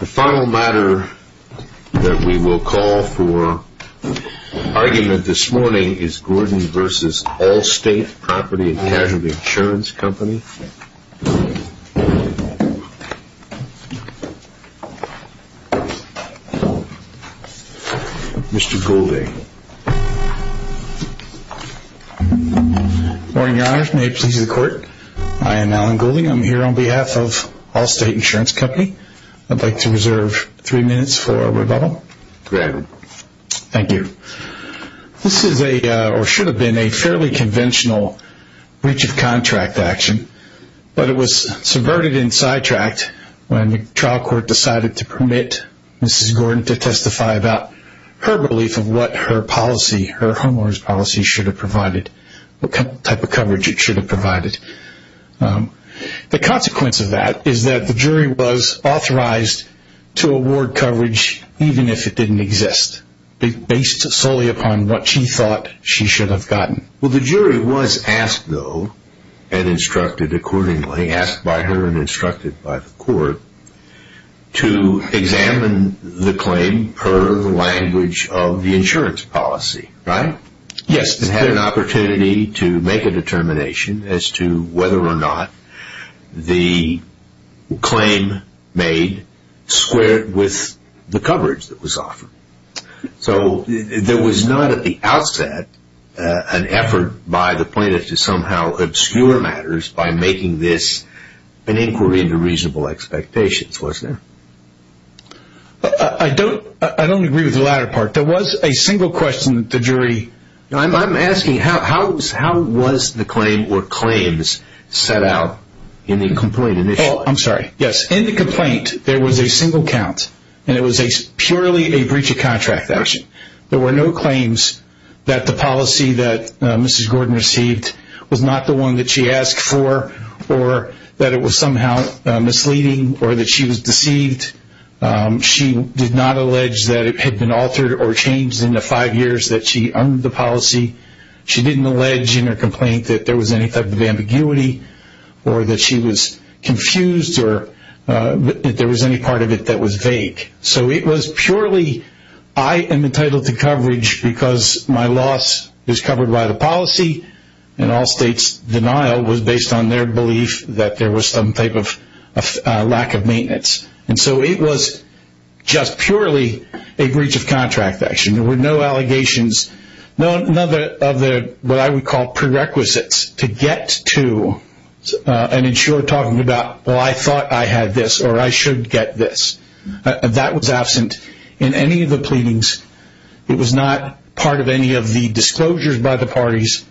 The final matter that we will call for argument this morning is Gordon v. Allstate Property & Casualty Insurance Company. Mr. Goulding. Good morning, your honor. May it please the court. I am Alan Goulding. I'm here on behalf of Allstate Insurance Company. I'd like to reserve three minutes for rebuttal. Granted. Thank you. This is a, or should have been, a fairly conventional breach of contract action, but it was subverted in sidetracked when the trial court decided to permit Mrs. Gordon to testify about her belief of what her policy, her homeowner's policy should have provided, what type of coverage it should have provided. The consequence of that is that the jury was authorized to award coverage even if it didn't exist, based solely upon what she thought she should have gotten. Well, the jury was asked, though, and instructed accordingly, asked by her and instructed by the court, to examine the claim per the language of the insurance policy, right? Yes. And had an opportunity to make a determination as to whether or not the claim made squared with the coverage that was offered. So there was not at the outset an effort by the plaintiff to somehow obscure matters by making this an inquiry into reasonable expectations, was there? I don't, I don't agree with the latter part. There was a single question that the jury... I'm asking, how was the claim or claims set out in the complaint? Oh, I'm sorry. Yes. In the complaint, there was a single count, and it was purely a breach of contract action. There were no claims that the policy that Mrs. Gordon received was not the one that she asked for, or that it was somehow misleading, or that she was deceived. She did not allege that it had been altered or changed in the five years that she owned the policy. She didn't allege in her complaint that there was any type of ambiguity, or that she was confused, or that there was any part of it that was vague. So it was purely, I am entitled to coverage because my loss is covered by the policy, and all states' denial was based on their belief that there was some type of lack of maintenance. And so it was just purely a breach of contract action. There were no allegations, none of the, what I would call, prerequisites to get to an insurer talking about, well, I thought I had this, or I should get this. That was absent in any of the pleadings. It was not part of any of the disclosures by the parties.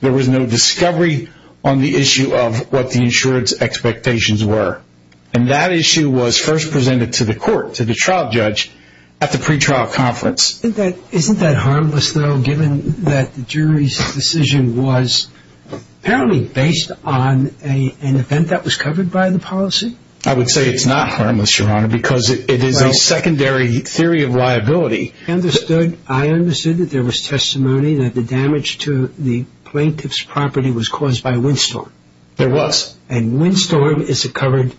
There was no discovery on the issue of what the insurance expectations were. And that issue was first presented to the court, to the trial judge, at the pretrial conference. Isn't that harmless, though, given that the jury's decision was apparently based on an event that was covered by the policy? I would say it's not harmless, Your Honor, because it is a secondary theory of liability. I understood that there was testimony that the damage to the plaintiff's property was caused by a windstorm. There was. And windstorm is a covered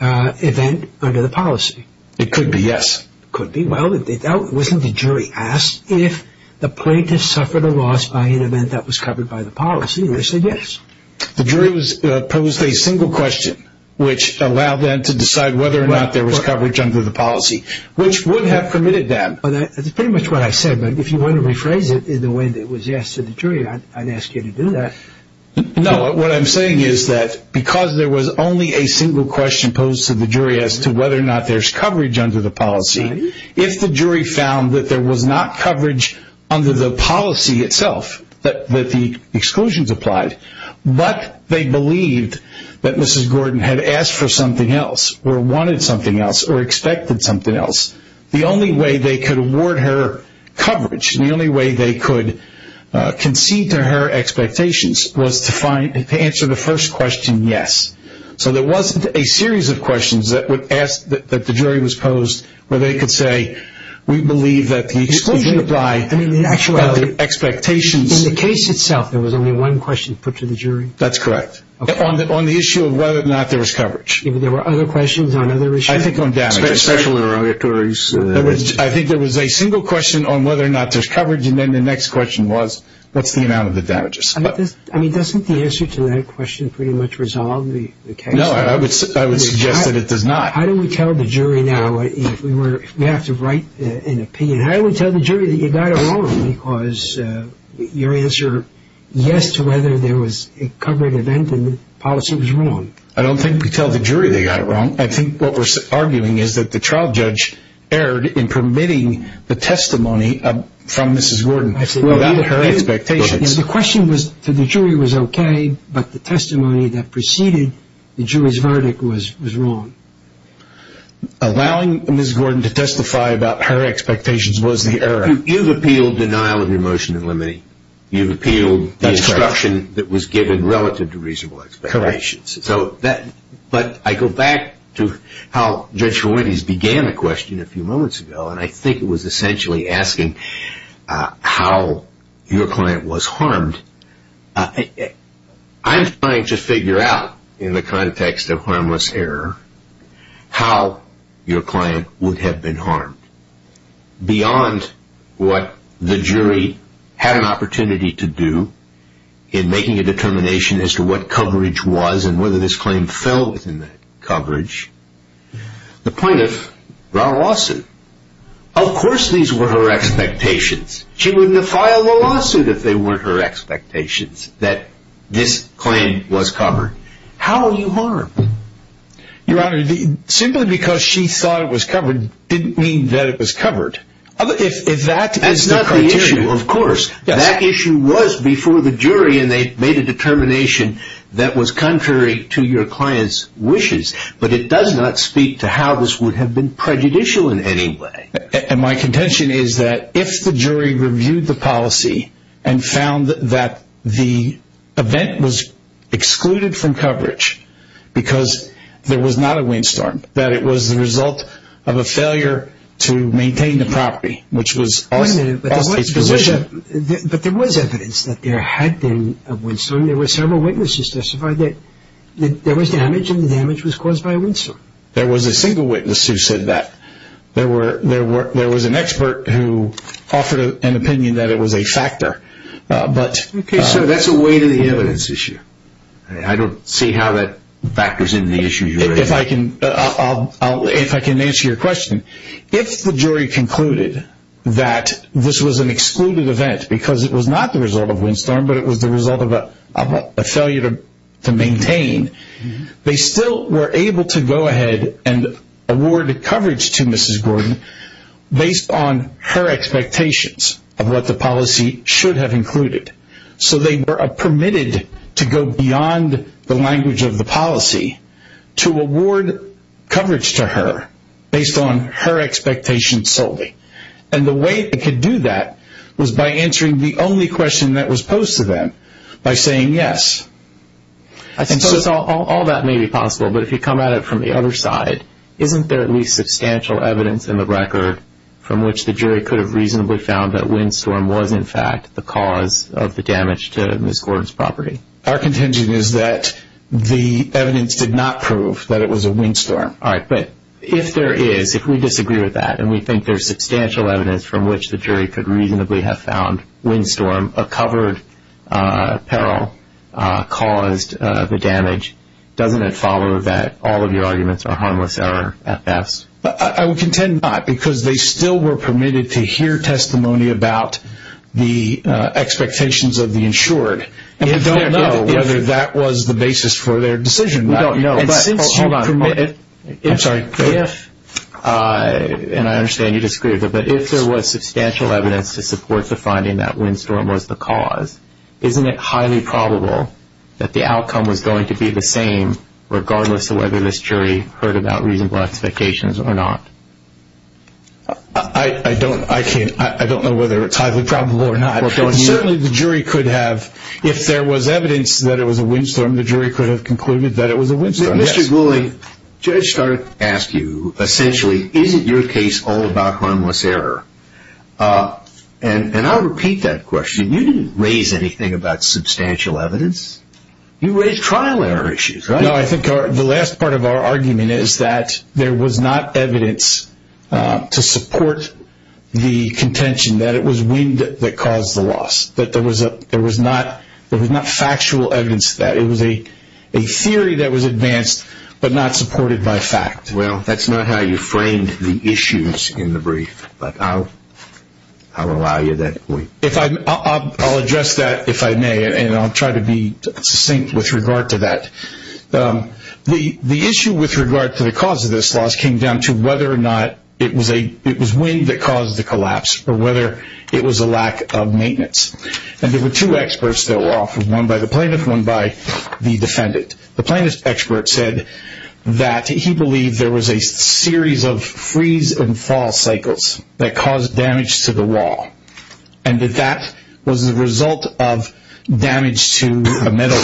event under the policy. It could be, yes. It could be. Well, wasn't the jury asked if the plaintiff suffered a loss by an event that was covered by the policy? They said yes. The jury posed a single question, which allowed them to decide whether or not there was coverage under the policy, which would have permitted that. That's pretty much what I said, but if you want to rephrase it in the way that it was asked of the jury, I'd ask you to do that. No, what I'm saying is that because there was only a single question posed to the jury as to whether or not there's coverage under the policy, if the jury found that there was not coverage under the policy itself, that the exclusions applied, but they believed that Mrs. Gordon had asked for something else or wanted something else or expected something else, the only way they could award her coverage and the only way they could concede to her expectations was to answer the first question yes. So there wasn't a series of questions that the jury was posed where they could say we believe that the exclusion applied. In the case itself, there was only one question put to the jury? That's correct. On the issue of whether or not there was coverage. There were other questions on other issues? I think there was a single question on whether or not there's coverage and then the next question was what's the amount of the damages. I mean, doesn't the answer to that question pretty much resolve the case? No, I would suggest that it does not. How do we tell the jury now if we have to write an opinion? How do we tell the jury that you got it wrong because your answer yes to whether there was a covered event and the policy was wrong? I don't think we tell the jury they got it wrong. I think what we're arguing is that the trial judge erred in permitting the testimony from Mrs. Gordon about her expectations. The question to the jury was okay, but the testimony that preceded the jury's verdict was wrong. Allowing Mrs. Gordon to testify about her expectations was the error. You've appealed denial of remotion and limiting. You've appealed the instruction that was given relative to reasonable expectations. Correct. But I go back to how Judge Fuentes began the question a few moments ago and I think it was essentially asking how your client was harmed. I'm trying to figure out in the context of harmless error how your client would have been harmed. Beyond what the jury had an opportunity to do in making a determination as to what coverage was and whether this claim fell within the coverage, the plaintiff brought a lawsuit. Of course these were her expectations. She wouldn't have filed a lawsuit if they weren't her expectations that this claim was covered. How were you harmed? Your Honor, simply because she thought it was covered didn't mean that it was covered. That's not the issue, of course. That issue was before the jury and they made a determination that was contrary to your client's wishes, but it does not speak to how this would have been prejudicial in any way. My contention is that if the jury reviewed the policy and found that the event was excluded from coverage because there was not a windstorm, that it was the result of a failure to maintain the property, which was also its position. But there was evidence that there had been a windstorm. There were several witnesses who testified that there was damage and the damage was caused by a windstorm. There was a single witness who said that. There was an expert who offered an opinion that it was a factor. Okay, so that's a weight of the evidence issue. I don't see how that factors into the issue, Your Honor. If I can answer your question. If the jury concluded that this was an excluded event because it was not the result of a windstorm, but it was the result of a failure to maintain, they still were able to go ahead and award coverage to Mrs. Gordon based on her expectations of what the policy should have included. So they were permitted to go beyond the language of the policy to award coverage to her based on her expectations solely. And the way they could do that was by answering the only question that was posed to them by saying yes. All that may be possible, but if you come at it from the other side, isn't there at least substantial evidence in the record from which the jury could have reasonably found that windstorm was in fact the cause of the damage to Mrs. Gordon's property? Our contention is that the evidence did not prove that it was a windstorm. All right, but if there is, if we disagree with that and we think there's substantial evidence from which the jury could reasonably have found windstorm, a covered peril caused the damage, doesn't it follow that all of your arguments are harmless error at best? I would contend not because they still were permitted to hear testimony about the expectations of the insured. And we don't know whether that was the basis for their decision. We don't know. Hold on. I'm sorry. If, and I understand you disagree with it, but if there was substantial evidence to support the finding that windstorm was the cause, isn't it highly probable that the outcome was going to be the same regardless of whether this jury heard about reasonable expectations or not? I don't, I can't, I don't know whether it's highly probable or not. Certainly the jury could have, if there was evidence that it was a windstorm, the jury could have concluded that it was a windstorm, yes. Mr. Gouley, the judge started to ask you, essentially, is it your case all about harmless error? And I'll repeat that question. You didn't raise anything about substantial evidence. You raised trial error issues, right? No, I think the last part of our argument is that there was not evidence to support the contention that it was wind that caused the loss, that there was not factual evidence to that. It was a theory that was advanced but not supported by fact. Well, that's not how you framed the issues in the brief, but I'll allow you that point. I'll address that if I may, and I'll try to be succinct with regard to that. The issue with regard to the cause of this loss came down to whether or not it was wind that caused the collapse or whether it was a lack of maintenance. And there were two experts that were offered, one by the plaintiff, one by the defendant. The plaintiff's expert said that he believed there was a series of freeze and fall cycles that caused damage to the wall and that that was the result of damage to a metal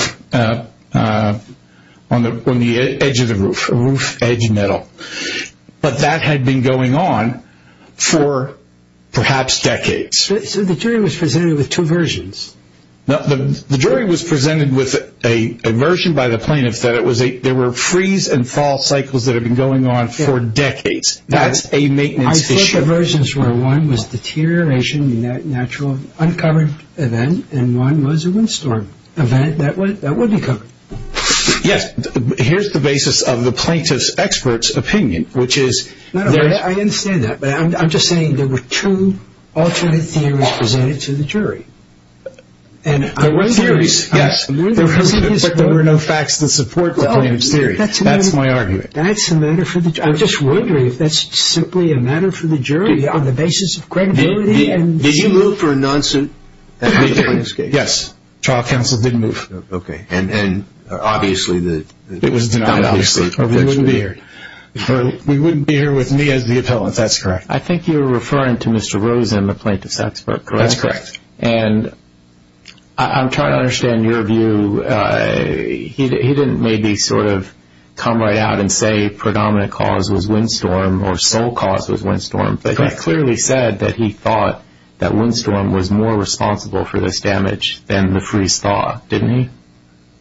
on the edge of the roof, a roof edge metal. But that had been going on for perhaps decades. So the jury was presented with two versions. The jury was presented with a version by the plaintiff that there were freeze and fall cycles that had been going on for decades. That's a maintenance issue. I thought the versions were one was deterioration, natural uncovered event, and one was a windstorm event that would be covered. Yes. Here's the basis of the plaintiff's expert's opinion, which is there is... I understand that, but I'm just saying there were two alternate theories presented to the jury. There were theories, yes, but there were no facts that support the plaintiff's theory. That's my argument. That's a matter for the jury. I'm just wondering if that's simply a matter for the jury on the basis of credibility. Did you move for a non-suit? Yes. Trial counsel did move. Okay. And obviously the... It was denied obviously. We wouldn't be here with me as the appellant. That's correct. I think you're referring to Mr. Rosen, the plaintiff's expert, correct? That's correct. And I'm trying to understand your view. He didn't maybe sort of come right out and say predominant cause was windstorm or sole cause was windstorm, but he clearly said that he thought that windstorm was more responsible for this damage than the freeze thaw, didn't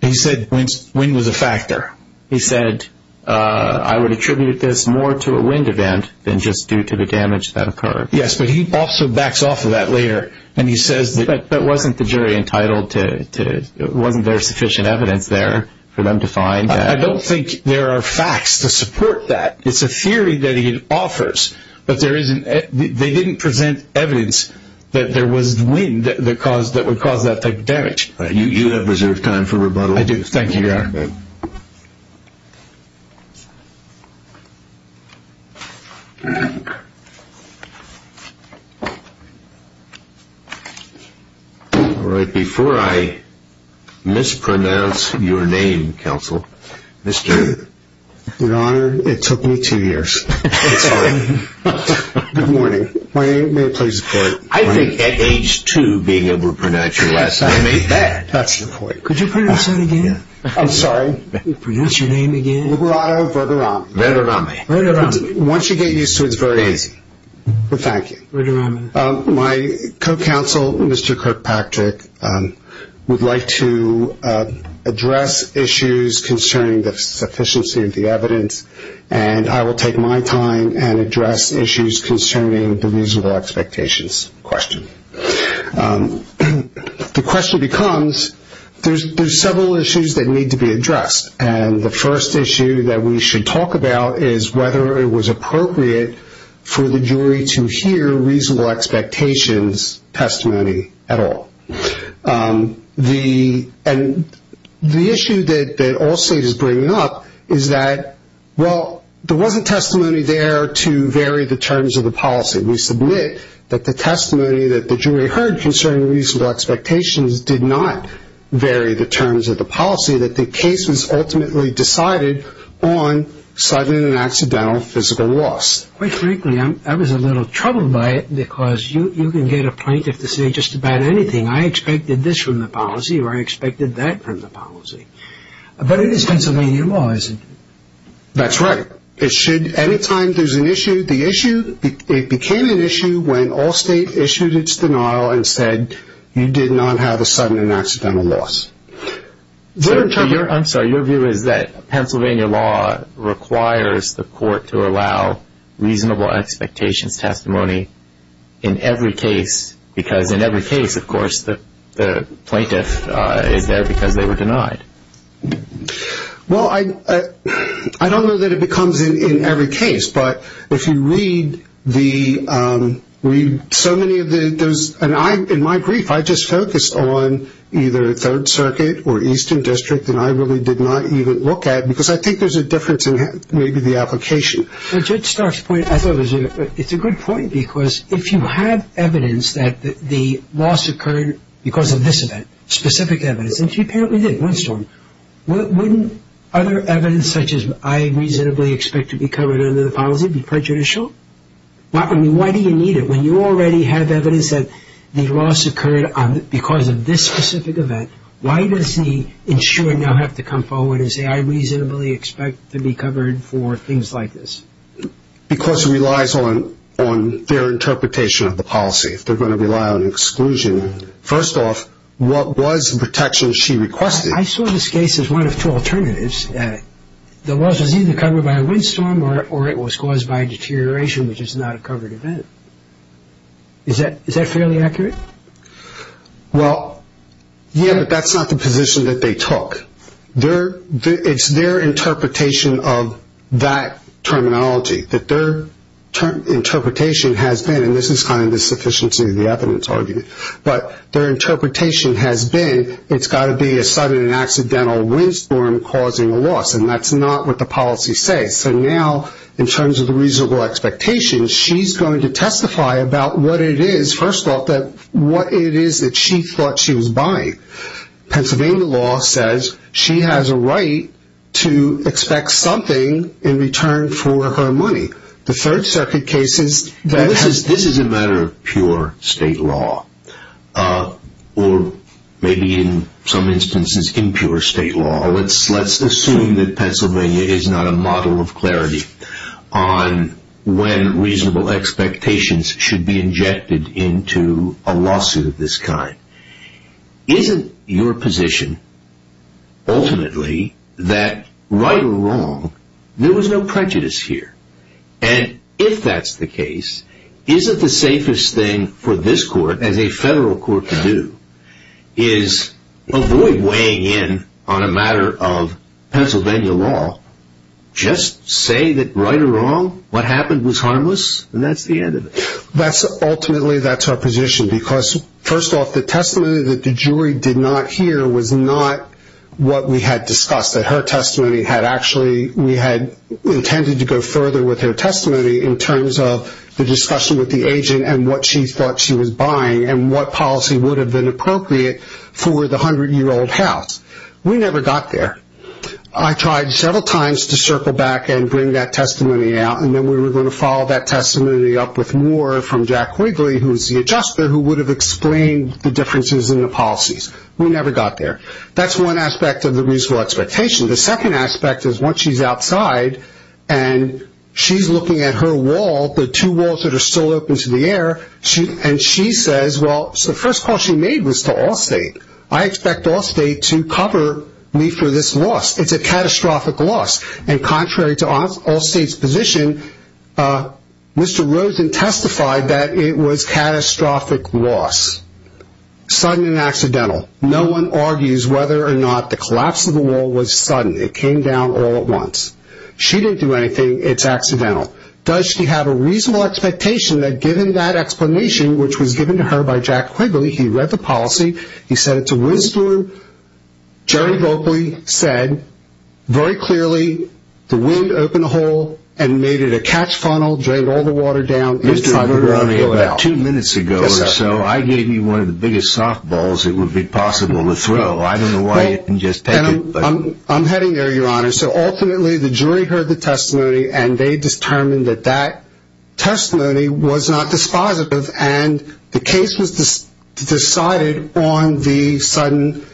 he? He said wind was a factor. He said, I would attribute this more to a wind event than just due to the damage that occurred. Yes, but he also backs off of that later, and he says... But wasn't the jury entitled to... Wasn't there sufficient evidence there for them to find? I don't think there are facts to support that. It's a theory that he offers, but there isn't... They didn't present evidence that there was wind that would cause that type of damage. You have reserved time for rebuttal. I do. Thank you, Your Honor. All right, before I mispronounce your name, counsel, Mr... Your Honor, it took me two years. It's all right. Good morning. May I please report... I think at age two being able to pronounce your last name ain't bad. That's the point. Could you pronounce that again? I'm sorry? Pronounce your name again. Liberato Verderame. Verderame. Verderame. Once you get used to it, it's very easy. But thank you. Verderame. My co-counsel, Mr. Kirkpatrick, would like to address issues concerning the sufficiency of the evidence, and I will take my time and address issues concerning the reasonable expectations question. The question becomes, there's several issues that need to be addressed, and the first issue that we should talk about is whether it was appropriate for the jury to hear reasonable expectations testimony at all. And the issue that all state is bringing up is that, well, there wasn't testimony there to vary the terms of the policy. We submit that the testimony that the jury heard concerning reasonable expectations did not vary the terms of the policy, that the case was ultimately decided on sudden and accidental physical loss. Quite frankly, I was a little troubled by it because you can get a plaintiff to say just about anything, I expected this from the policy or I expected that from the policy. But it is Pennsylvania law, isn't it? That's right. It should, any time there's an issue, the issue, it became an issue when all state issued its denial and said you did not have a sudden and accidental loss. I'm sorry, your view is that Pennsylvania law requires the court to allow reasonable expectations testimony in every case, because in every case, of course, the plaintiff is there because they were denied. Well, I don't know that it becomes in every case, but if you read the, read so many of the, in my brief, I just focused on either Third Circuit or Eastern District and I really did not even look at it, because I think there's a difference in maybe the application. Judge Stark's point, I thought it was a good point, because if you have evidence that the loss occurred because of this event, specific evidence, and she apparently did, one storm, wouldn't other evidence such as I reasonably expect to be covered under the policy be prejudicial? Why do you need it when you already have evidence that the loss occurred because of this specific event? Why does the insurer now have to come forward and say I reasonably expect to be covered for things like this? Because it relies on their interpretation of the policy. They're going to rely on exclusion. First off, what was the protection she requested? I saw this case as one of two alternatives. The loss was either covered by a windstorm or it was caused by a deterioration, which is not a covered event. Is that fairly accurate? Well, yeah, but that's not the position that they took. It's their interpretation of that terminology, that their interpretation has been, and this is kind of the sufficiency of the evidence argument, but their interpretation has been it's got to be a sudden and accidental windstorm causing a loss, and that's not what the policy says. So now in terms of the reasonable expectations, she's going to testify about what it is, first off, what it is that she thought she was buying. Pennsylvania law says she has a right to expect something in return for her money. This is a matter of pure state law, or maybe in some instances impure state law. Let's assume that Pennsylvania is not a model of clarity on when reasonable expectations should be injected into a lawsuit of this kind. Isn't your position, ultimately, that right or wrong, there was no prejudice here? And if that's the case, isn't the safest thing for this court, as a federal court to do, is avoid weighing in on a matter of Pennsylvania law? Just say that right or wrong, what happened was harmless, and that's the end of it. Ultimately, that's our position, because, first off, the testimony that the jury did not hear was not what we had discussed, that her testimony had actually, we had intended to go further with her testimony in terms of the discussion with the agent and what she thought she was buying and what policy would have been appropriate for the 100-year-old house. We never got there. I tried several times to circle back and bring that testimony out, and then we were going to follow that testimony up with more from Jack Quigley, who is the adjuster, who would have explained the differences in the policies. We never got there. That's one aspect of the reasonable expectation. The second aspect is once she's outside and she's looking at her wall, the two walls that are still open to the air, and she says, well, the first call she made was to Allstate. I expect Allstate to cover me for this loss. It's a catastrophic loss, and contrary to Allstate's position, Mr. Rosen testified that it was catastrophic loss, sudden and accidental. No one argues whether or not the collapse of the wall was sudden. It came down all at once. She didn't do anything. It's accidental. Does she have a reasonable expectation that given that explanation, which was given to her by Jack Quigley, he read the policy, he said it's a windstorm. Jerry Voegli said very clearly the wind opened a hole and made it a catch funnel, drained all the water down. Mr. Voegli, about two minutes ago or so, I gave you one of the biggest softballs it would be possible to throw. I don't know why you didn't just take it. I'm heading there, Your Honor. So ultimately the jury heard the testimony, and they determined that that testimony was not dispositive, and the case was decided on the sudden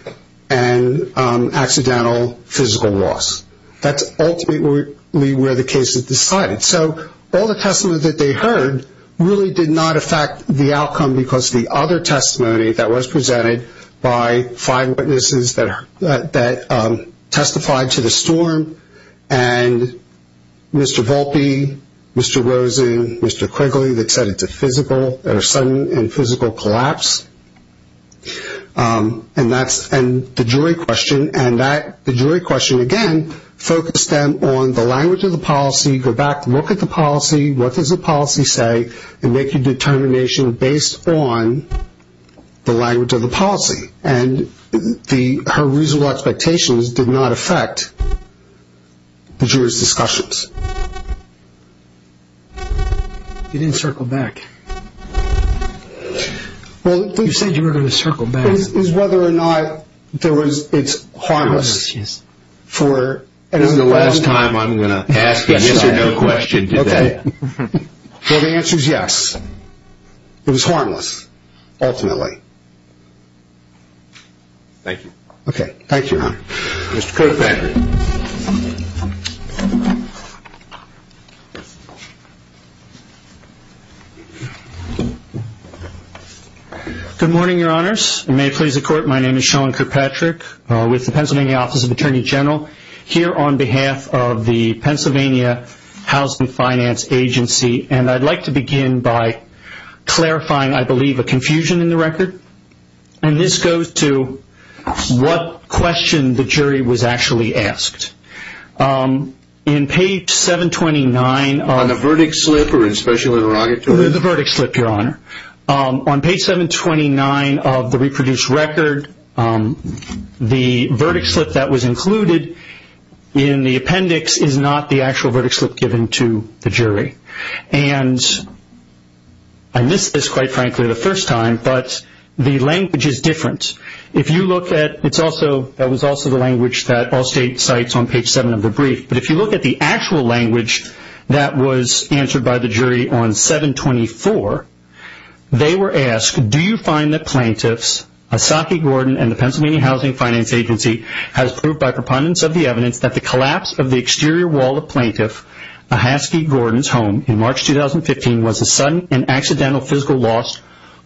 and accidental physical loss. That's ultimately where the case is decided. So all the testimony that they heard really did not affect the outcome because the other testimony that was presented by five witnesses that testified to the storm and Mr. Volpe, Mr. Rosen, Mr. Quigley that said it's a sudden and physical collapse. And the jury question, again, focused them on the language of the policy, go back, look at the policy, what does the policy say, and make a determination based on the language of the policy. And her reasonable expectations did not affect the jury's discussions. You didn't circle back. You said you were going to circle back. It's whether or not it's harmless. This is the last time I'm going to ask a yes or no question to that. Well, the answer is yes. It was harmless, ultimately. Thank you. Okay. Thank you, Your Honor. Mr. Kirkpatrick. Good morning, Your Honors. You may please the court. My name is Sean Kirkpatrick with the Pennsylvania Office of Attorney General. I'm here on behalf of the Pennsylvania Housing Finance Agency. And I'd like to begin by clarifying, I believe, a confusion in the record. And this goes to what question the jury was actually asked. In page 729 of the verdict slip, Your Honor, on page 729 of the reproduced record, the verdict slip that was included in the appendix is not the actual verdict slip given to the jury. And I missed this, quite frankly, the first time, but the language is different. If you look at, it's also, that was also the language that Allstate cites on page 7 of the brief. But if you look at the actual language that was answered by the jury on 724, they were asked, do you find that plaintiffs, Ahsaki Gordon and the Pennsylvania Housing Finance Agency has proved by preponderance of the evidence that the collapse of the exterior wall of plaintiff Ahsaki Gordon's home in March 2015 was a sudden and accidental physical loss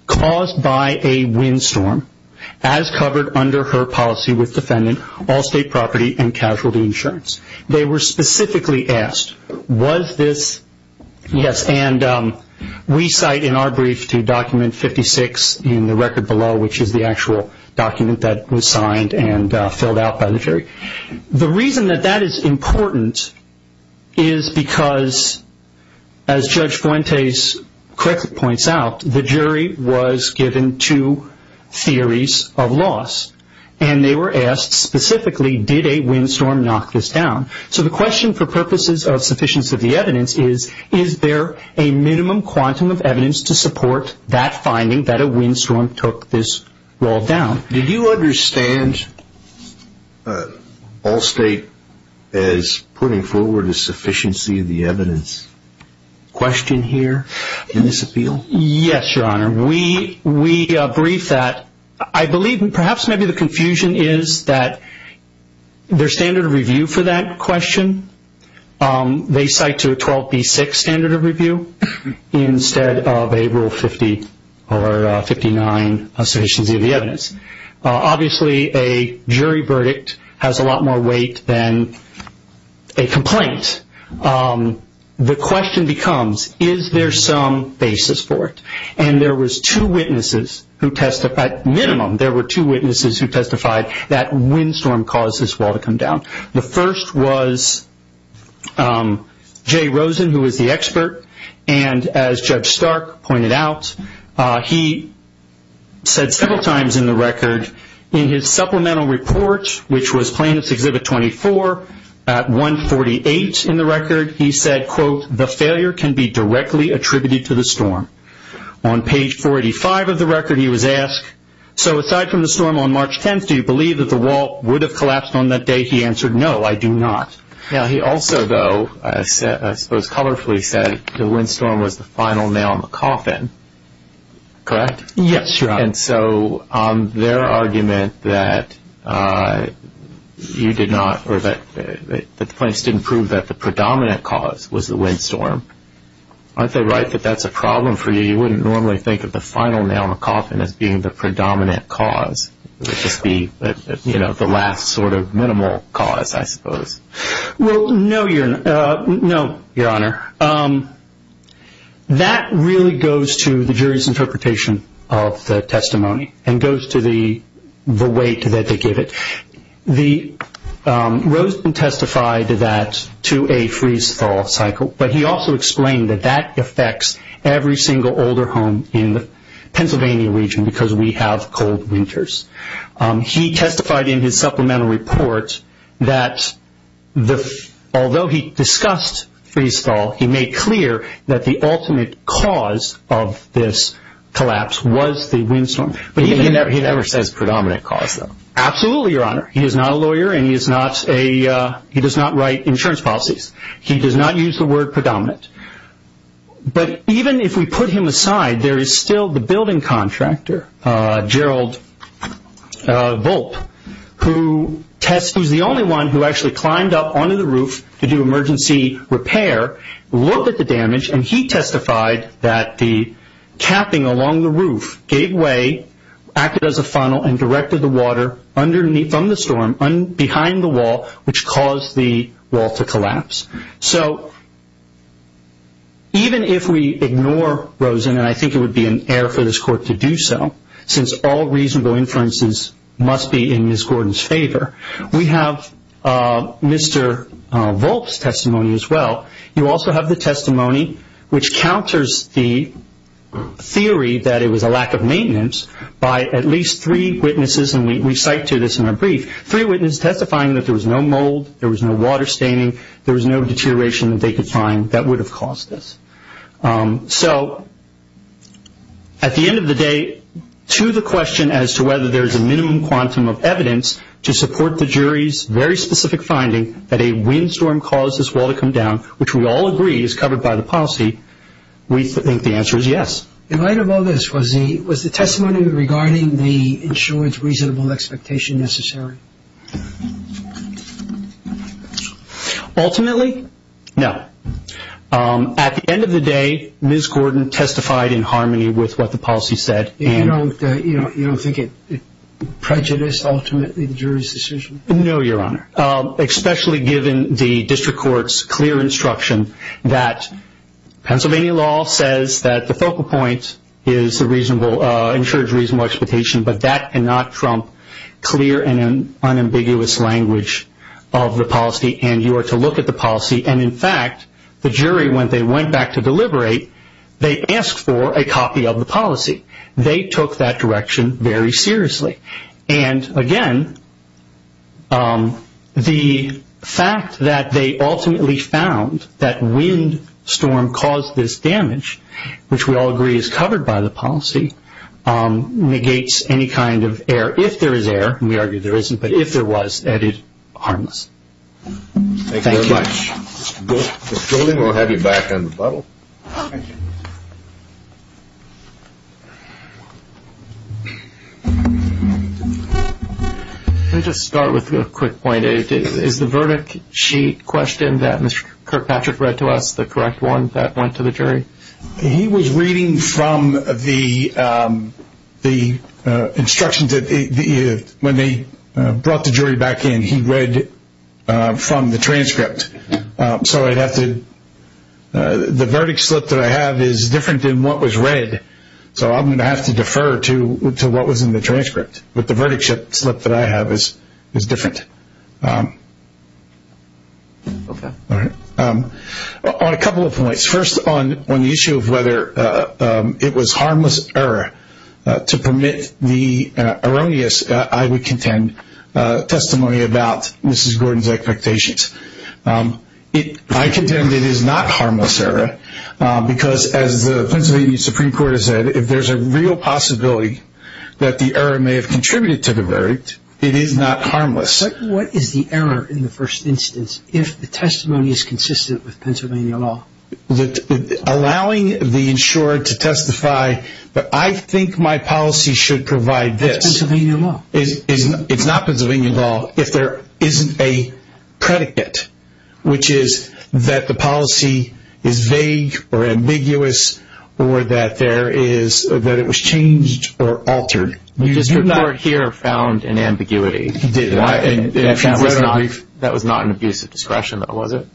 caused by a windstorm, as covered under her policy with defendant Allstate Property and Casualty Insurance. They were specifically asked, was this, yes. And we cite in our brief to document 56 in the record below, which is the actual document that was signed and filled out by the jury. The reason that that is important is because, as Judge Fuentes correctly points out, the jury was given two theories of loss. And they were asked specifically, did a windstorm knock this down? So the question for purposes of sufficiency of the evidence is, is there a minimum quantum of evidence to support that finding that a windstorm took this wall down? Did you understand Allstate as putting forward a sufficiency of the evidence question here in this appeal? Yes, Your Honor. We brief that. I believe perhaps maybe the confusion is that their standard of review for that question, they cite to a 12B6 standard of review instead of a Rule 50 or 59 sufficiency of the evidence. Obviously, a jury verdict has a lot more weight than a complaint. The question becomes, is there some basis for it? And there was two witnesses who testified, at minimum, there were two witnesses who testified that a windstorm caused this wall to come down. The first was Jay Rosen, who was the expert. And as Judge Stark pointed out, he said several times in the record, in his supplemental report, which was plaintiff's Exhibit 24, at 148 in the record, he said, quote, the failure can be directly attributed to the storm. On page 485 of the record, he was asked, so aside from the storm on March 10th, do you believe that the wall would have collapsed on that day? He answered, no, I do not. Now, he also, though, I suppose colorfully said the windstorm was the final nail in the coffin. Correct? Yes, Your Honor. And so on their argument that you did not, or that the plaintiffs didn't prove that the predominant cause was the windstorm, aren't they right that that's a problem for you? You wouldn't normally think of the final nail in the coffin as being the predominant cause. It would just be, you know, the last sort of minimal cause, I suppose. Well, no, Your Honor. That really goes to the jury's interpretation of the testimony and goes to the weight that they give it. Roseden testified to that, to a freeze-thaw cycle, but he also explained that that affects every single older home in the Pennsylvania region because we have cold winters. He testified in his supplemental report that although he discussed freeze-thaw, he made clear that the ultimate cause of this collapse was the windstorm. But he never says predominant cause, though. Absolutely, Your Honor. He is not a lawyer and he does not write insurance policies. He does not use the word predominant. But even if we put him aside, there is still the building contractor, Gerald Volpe, who is the only one who actually climbed up onto the roof to do emergency repair, looked at the damage, and he testified that the capping along the roof gave way, acted as a funnel, and directed the water from the storm behind the wall, which caused the wall to collapse. So even if we ignore Roseden, and I think it would be an error for this Court to do so, since all reasonable inferences must be in Ms. Gordon's favor, we have Mr. Volpe's testimony as well. You also have the testimony which counters the theory that it was a lack of maintenance by at least three witnesses, and we cite to this in our brief, three witnesses testifying that there was no mold, there was no water staining, there was no deterioration that they could find that would have caused this. So at the end of the day, to the question as to whether there is a minimum quantum of evidence to support the jury's very specific finding that a windstorm caused this wall to come down, which we all agree is covered by the policy, we think the answer is yes. In light of all this, was the testimony regarding the insurance reasonable expectation necessary? Ultimately, no. At the end of the day, Ms. Gordon testified in harmony with what the policy said. You don't think it prejudiced ultimately the jury's decision? No, Your Honor, especially given the District Court's clear instruction that Pennsylvania law says that the focal point is the insurance reasonable expectation, but that cannot trump clear and unambiguous language of the policy, and you are to look at the policy, and in fact, the jury, when they went back to deliberate, they asked for a copy of the policy. They took that direction very seriously. And again, the fact that they ultimately found that windstorm caused this damage, which we all agree is covered by the policy, negates any kind of error. If there is error, and we argue there isn't, but if there was, that is harmless. Thank you very much. Mr. Golding, we'll have you back on the bubble. Let me just start with a quick point. Is the verdict sheet question that Mr. Kirkpatrick read to us the correct one that went to the jury? He was reading from the instructions that when they brought the jury back in, he read from the transcript. So the verdict slip that I have is different than what was read, so I'm going to have to defer to what was in the transcript. But the verdict slip that I have is different. On a couple of points, first on the issue of whether it was harmless error to permit the erroneous, I would contend, testimony about Mrs. Gordon's expectations. I contend it is not harmless error because, as the Pennsylvania Supreme Court has said, if there's a real possibility that the error may have contributed to the verdict, it is not harmless. What is the error in the first instance if the testimony is consistent with Pennsylvania law? Allowing the insurer to testify, but I think my policy should provide this. It's Pennsylvania law. It's not Pennsylvania law if there isn't a predicate, which is that the policy is vague or ambiguous or that it was changed or altered. Mr. Kirkpatrick here found an ambiguity. He did. That was not an abuse of discretion, though, was it?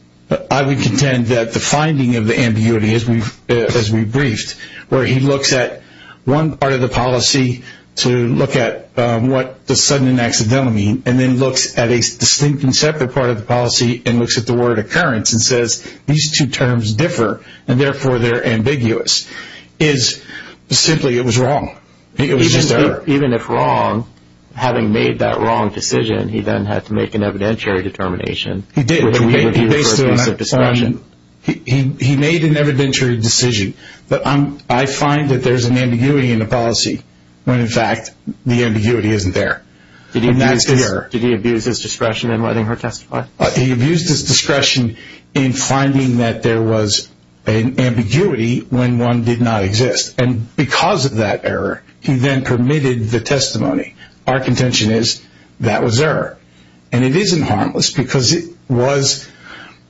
I would contend that the finding of the ambiguity, as we briefed, where he looks at one part of the policy to look at what does sudden and accidental mean and then looks at a distinct and separate part of the policy and looks at the word occurrence and says these two terms differ and, therefore, they're ambiguous, is simply it was wrong. It was just error. Even if wrong, having made that wrong decision, he then had to make an evidentiary determination. He did. He made an evidentiary decision. But I find that there's an ambiguity in the policy when, in fact, the ambiguity isn't there. Did he abuse his discretion in letting her testify? He abused his discretion in finding that there was an ambiguity when one did not exist. And because of that error, he then permitted the testimony. Our contention is that was error. And it isn't harmless because it was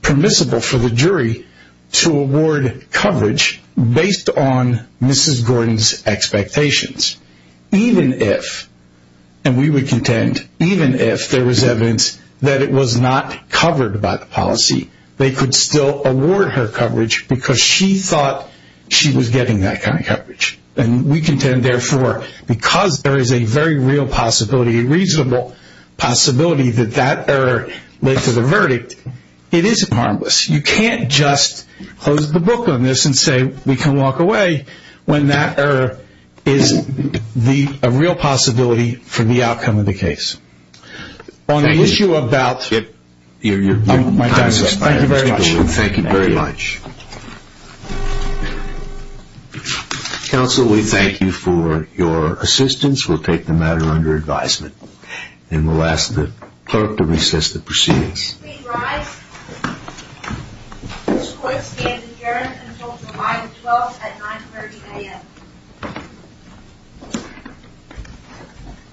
permissible for the jury to award coverage based on Mrs. Gordon's expectations. Even if, and we would contend, even if there was evidence that it was not covered by the policy, they could still award her coverage because she thought she was getting that kind of coverage. And we contend, therefore, because there is a very real possibility, a reasonable possibility that that error led to the verdict, it isn't harmless. You can't just close the book on this and say we can walk away when that error is a real possibility for the outcome of the case. On the issue about my time is up. Thank you very much. Thank you very much. Counsel, we thank you for your assistance. We'll take the matter under advisement. And we'll ask the clerk to recess the proceedings. Please rise. This court stands adjourned until July 12th at 9.30 a.m.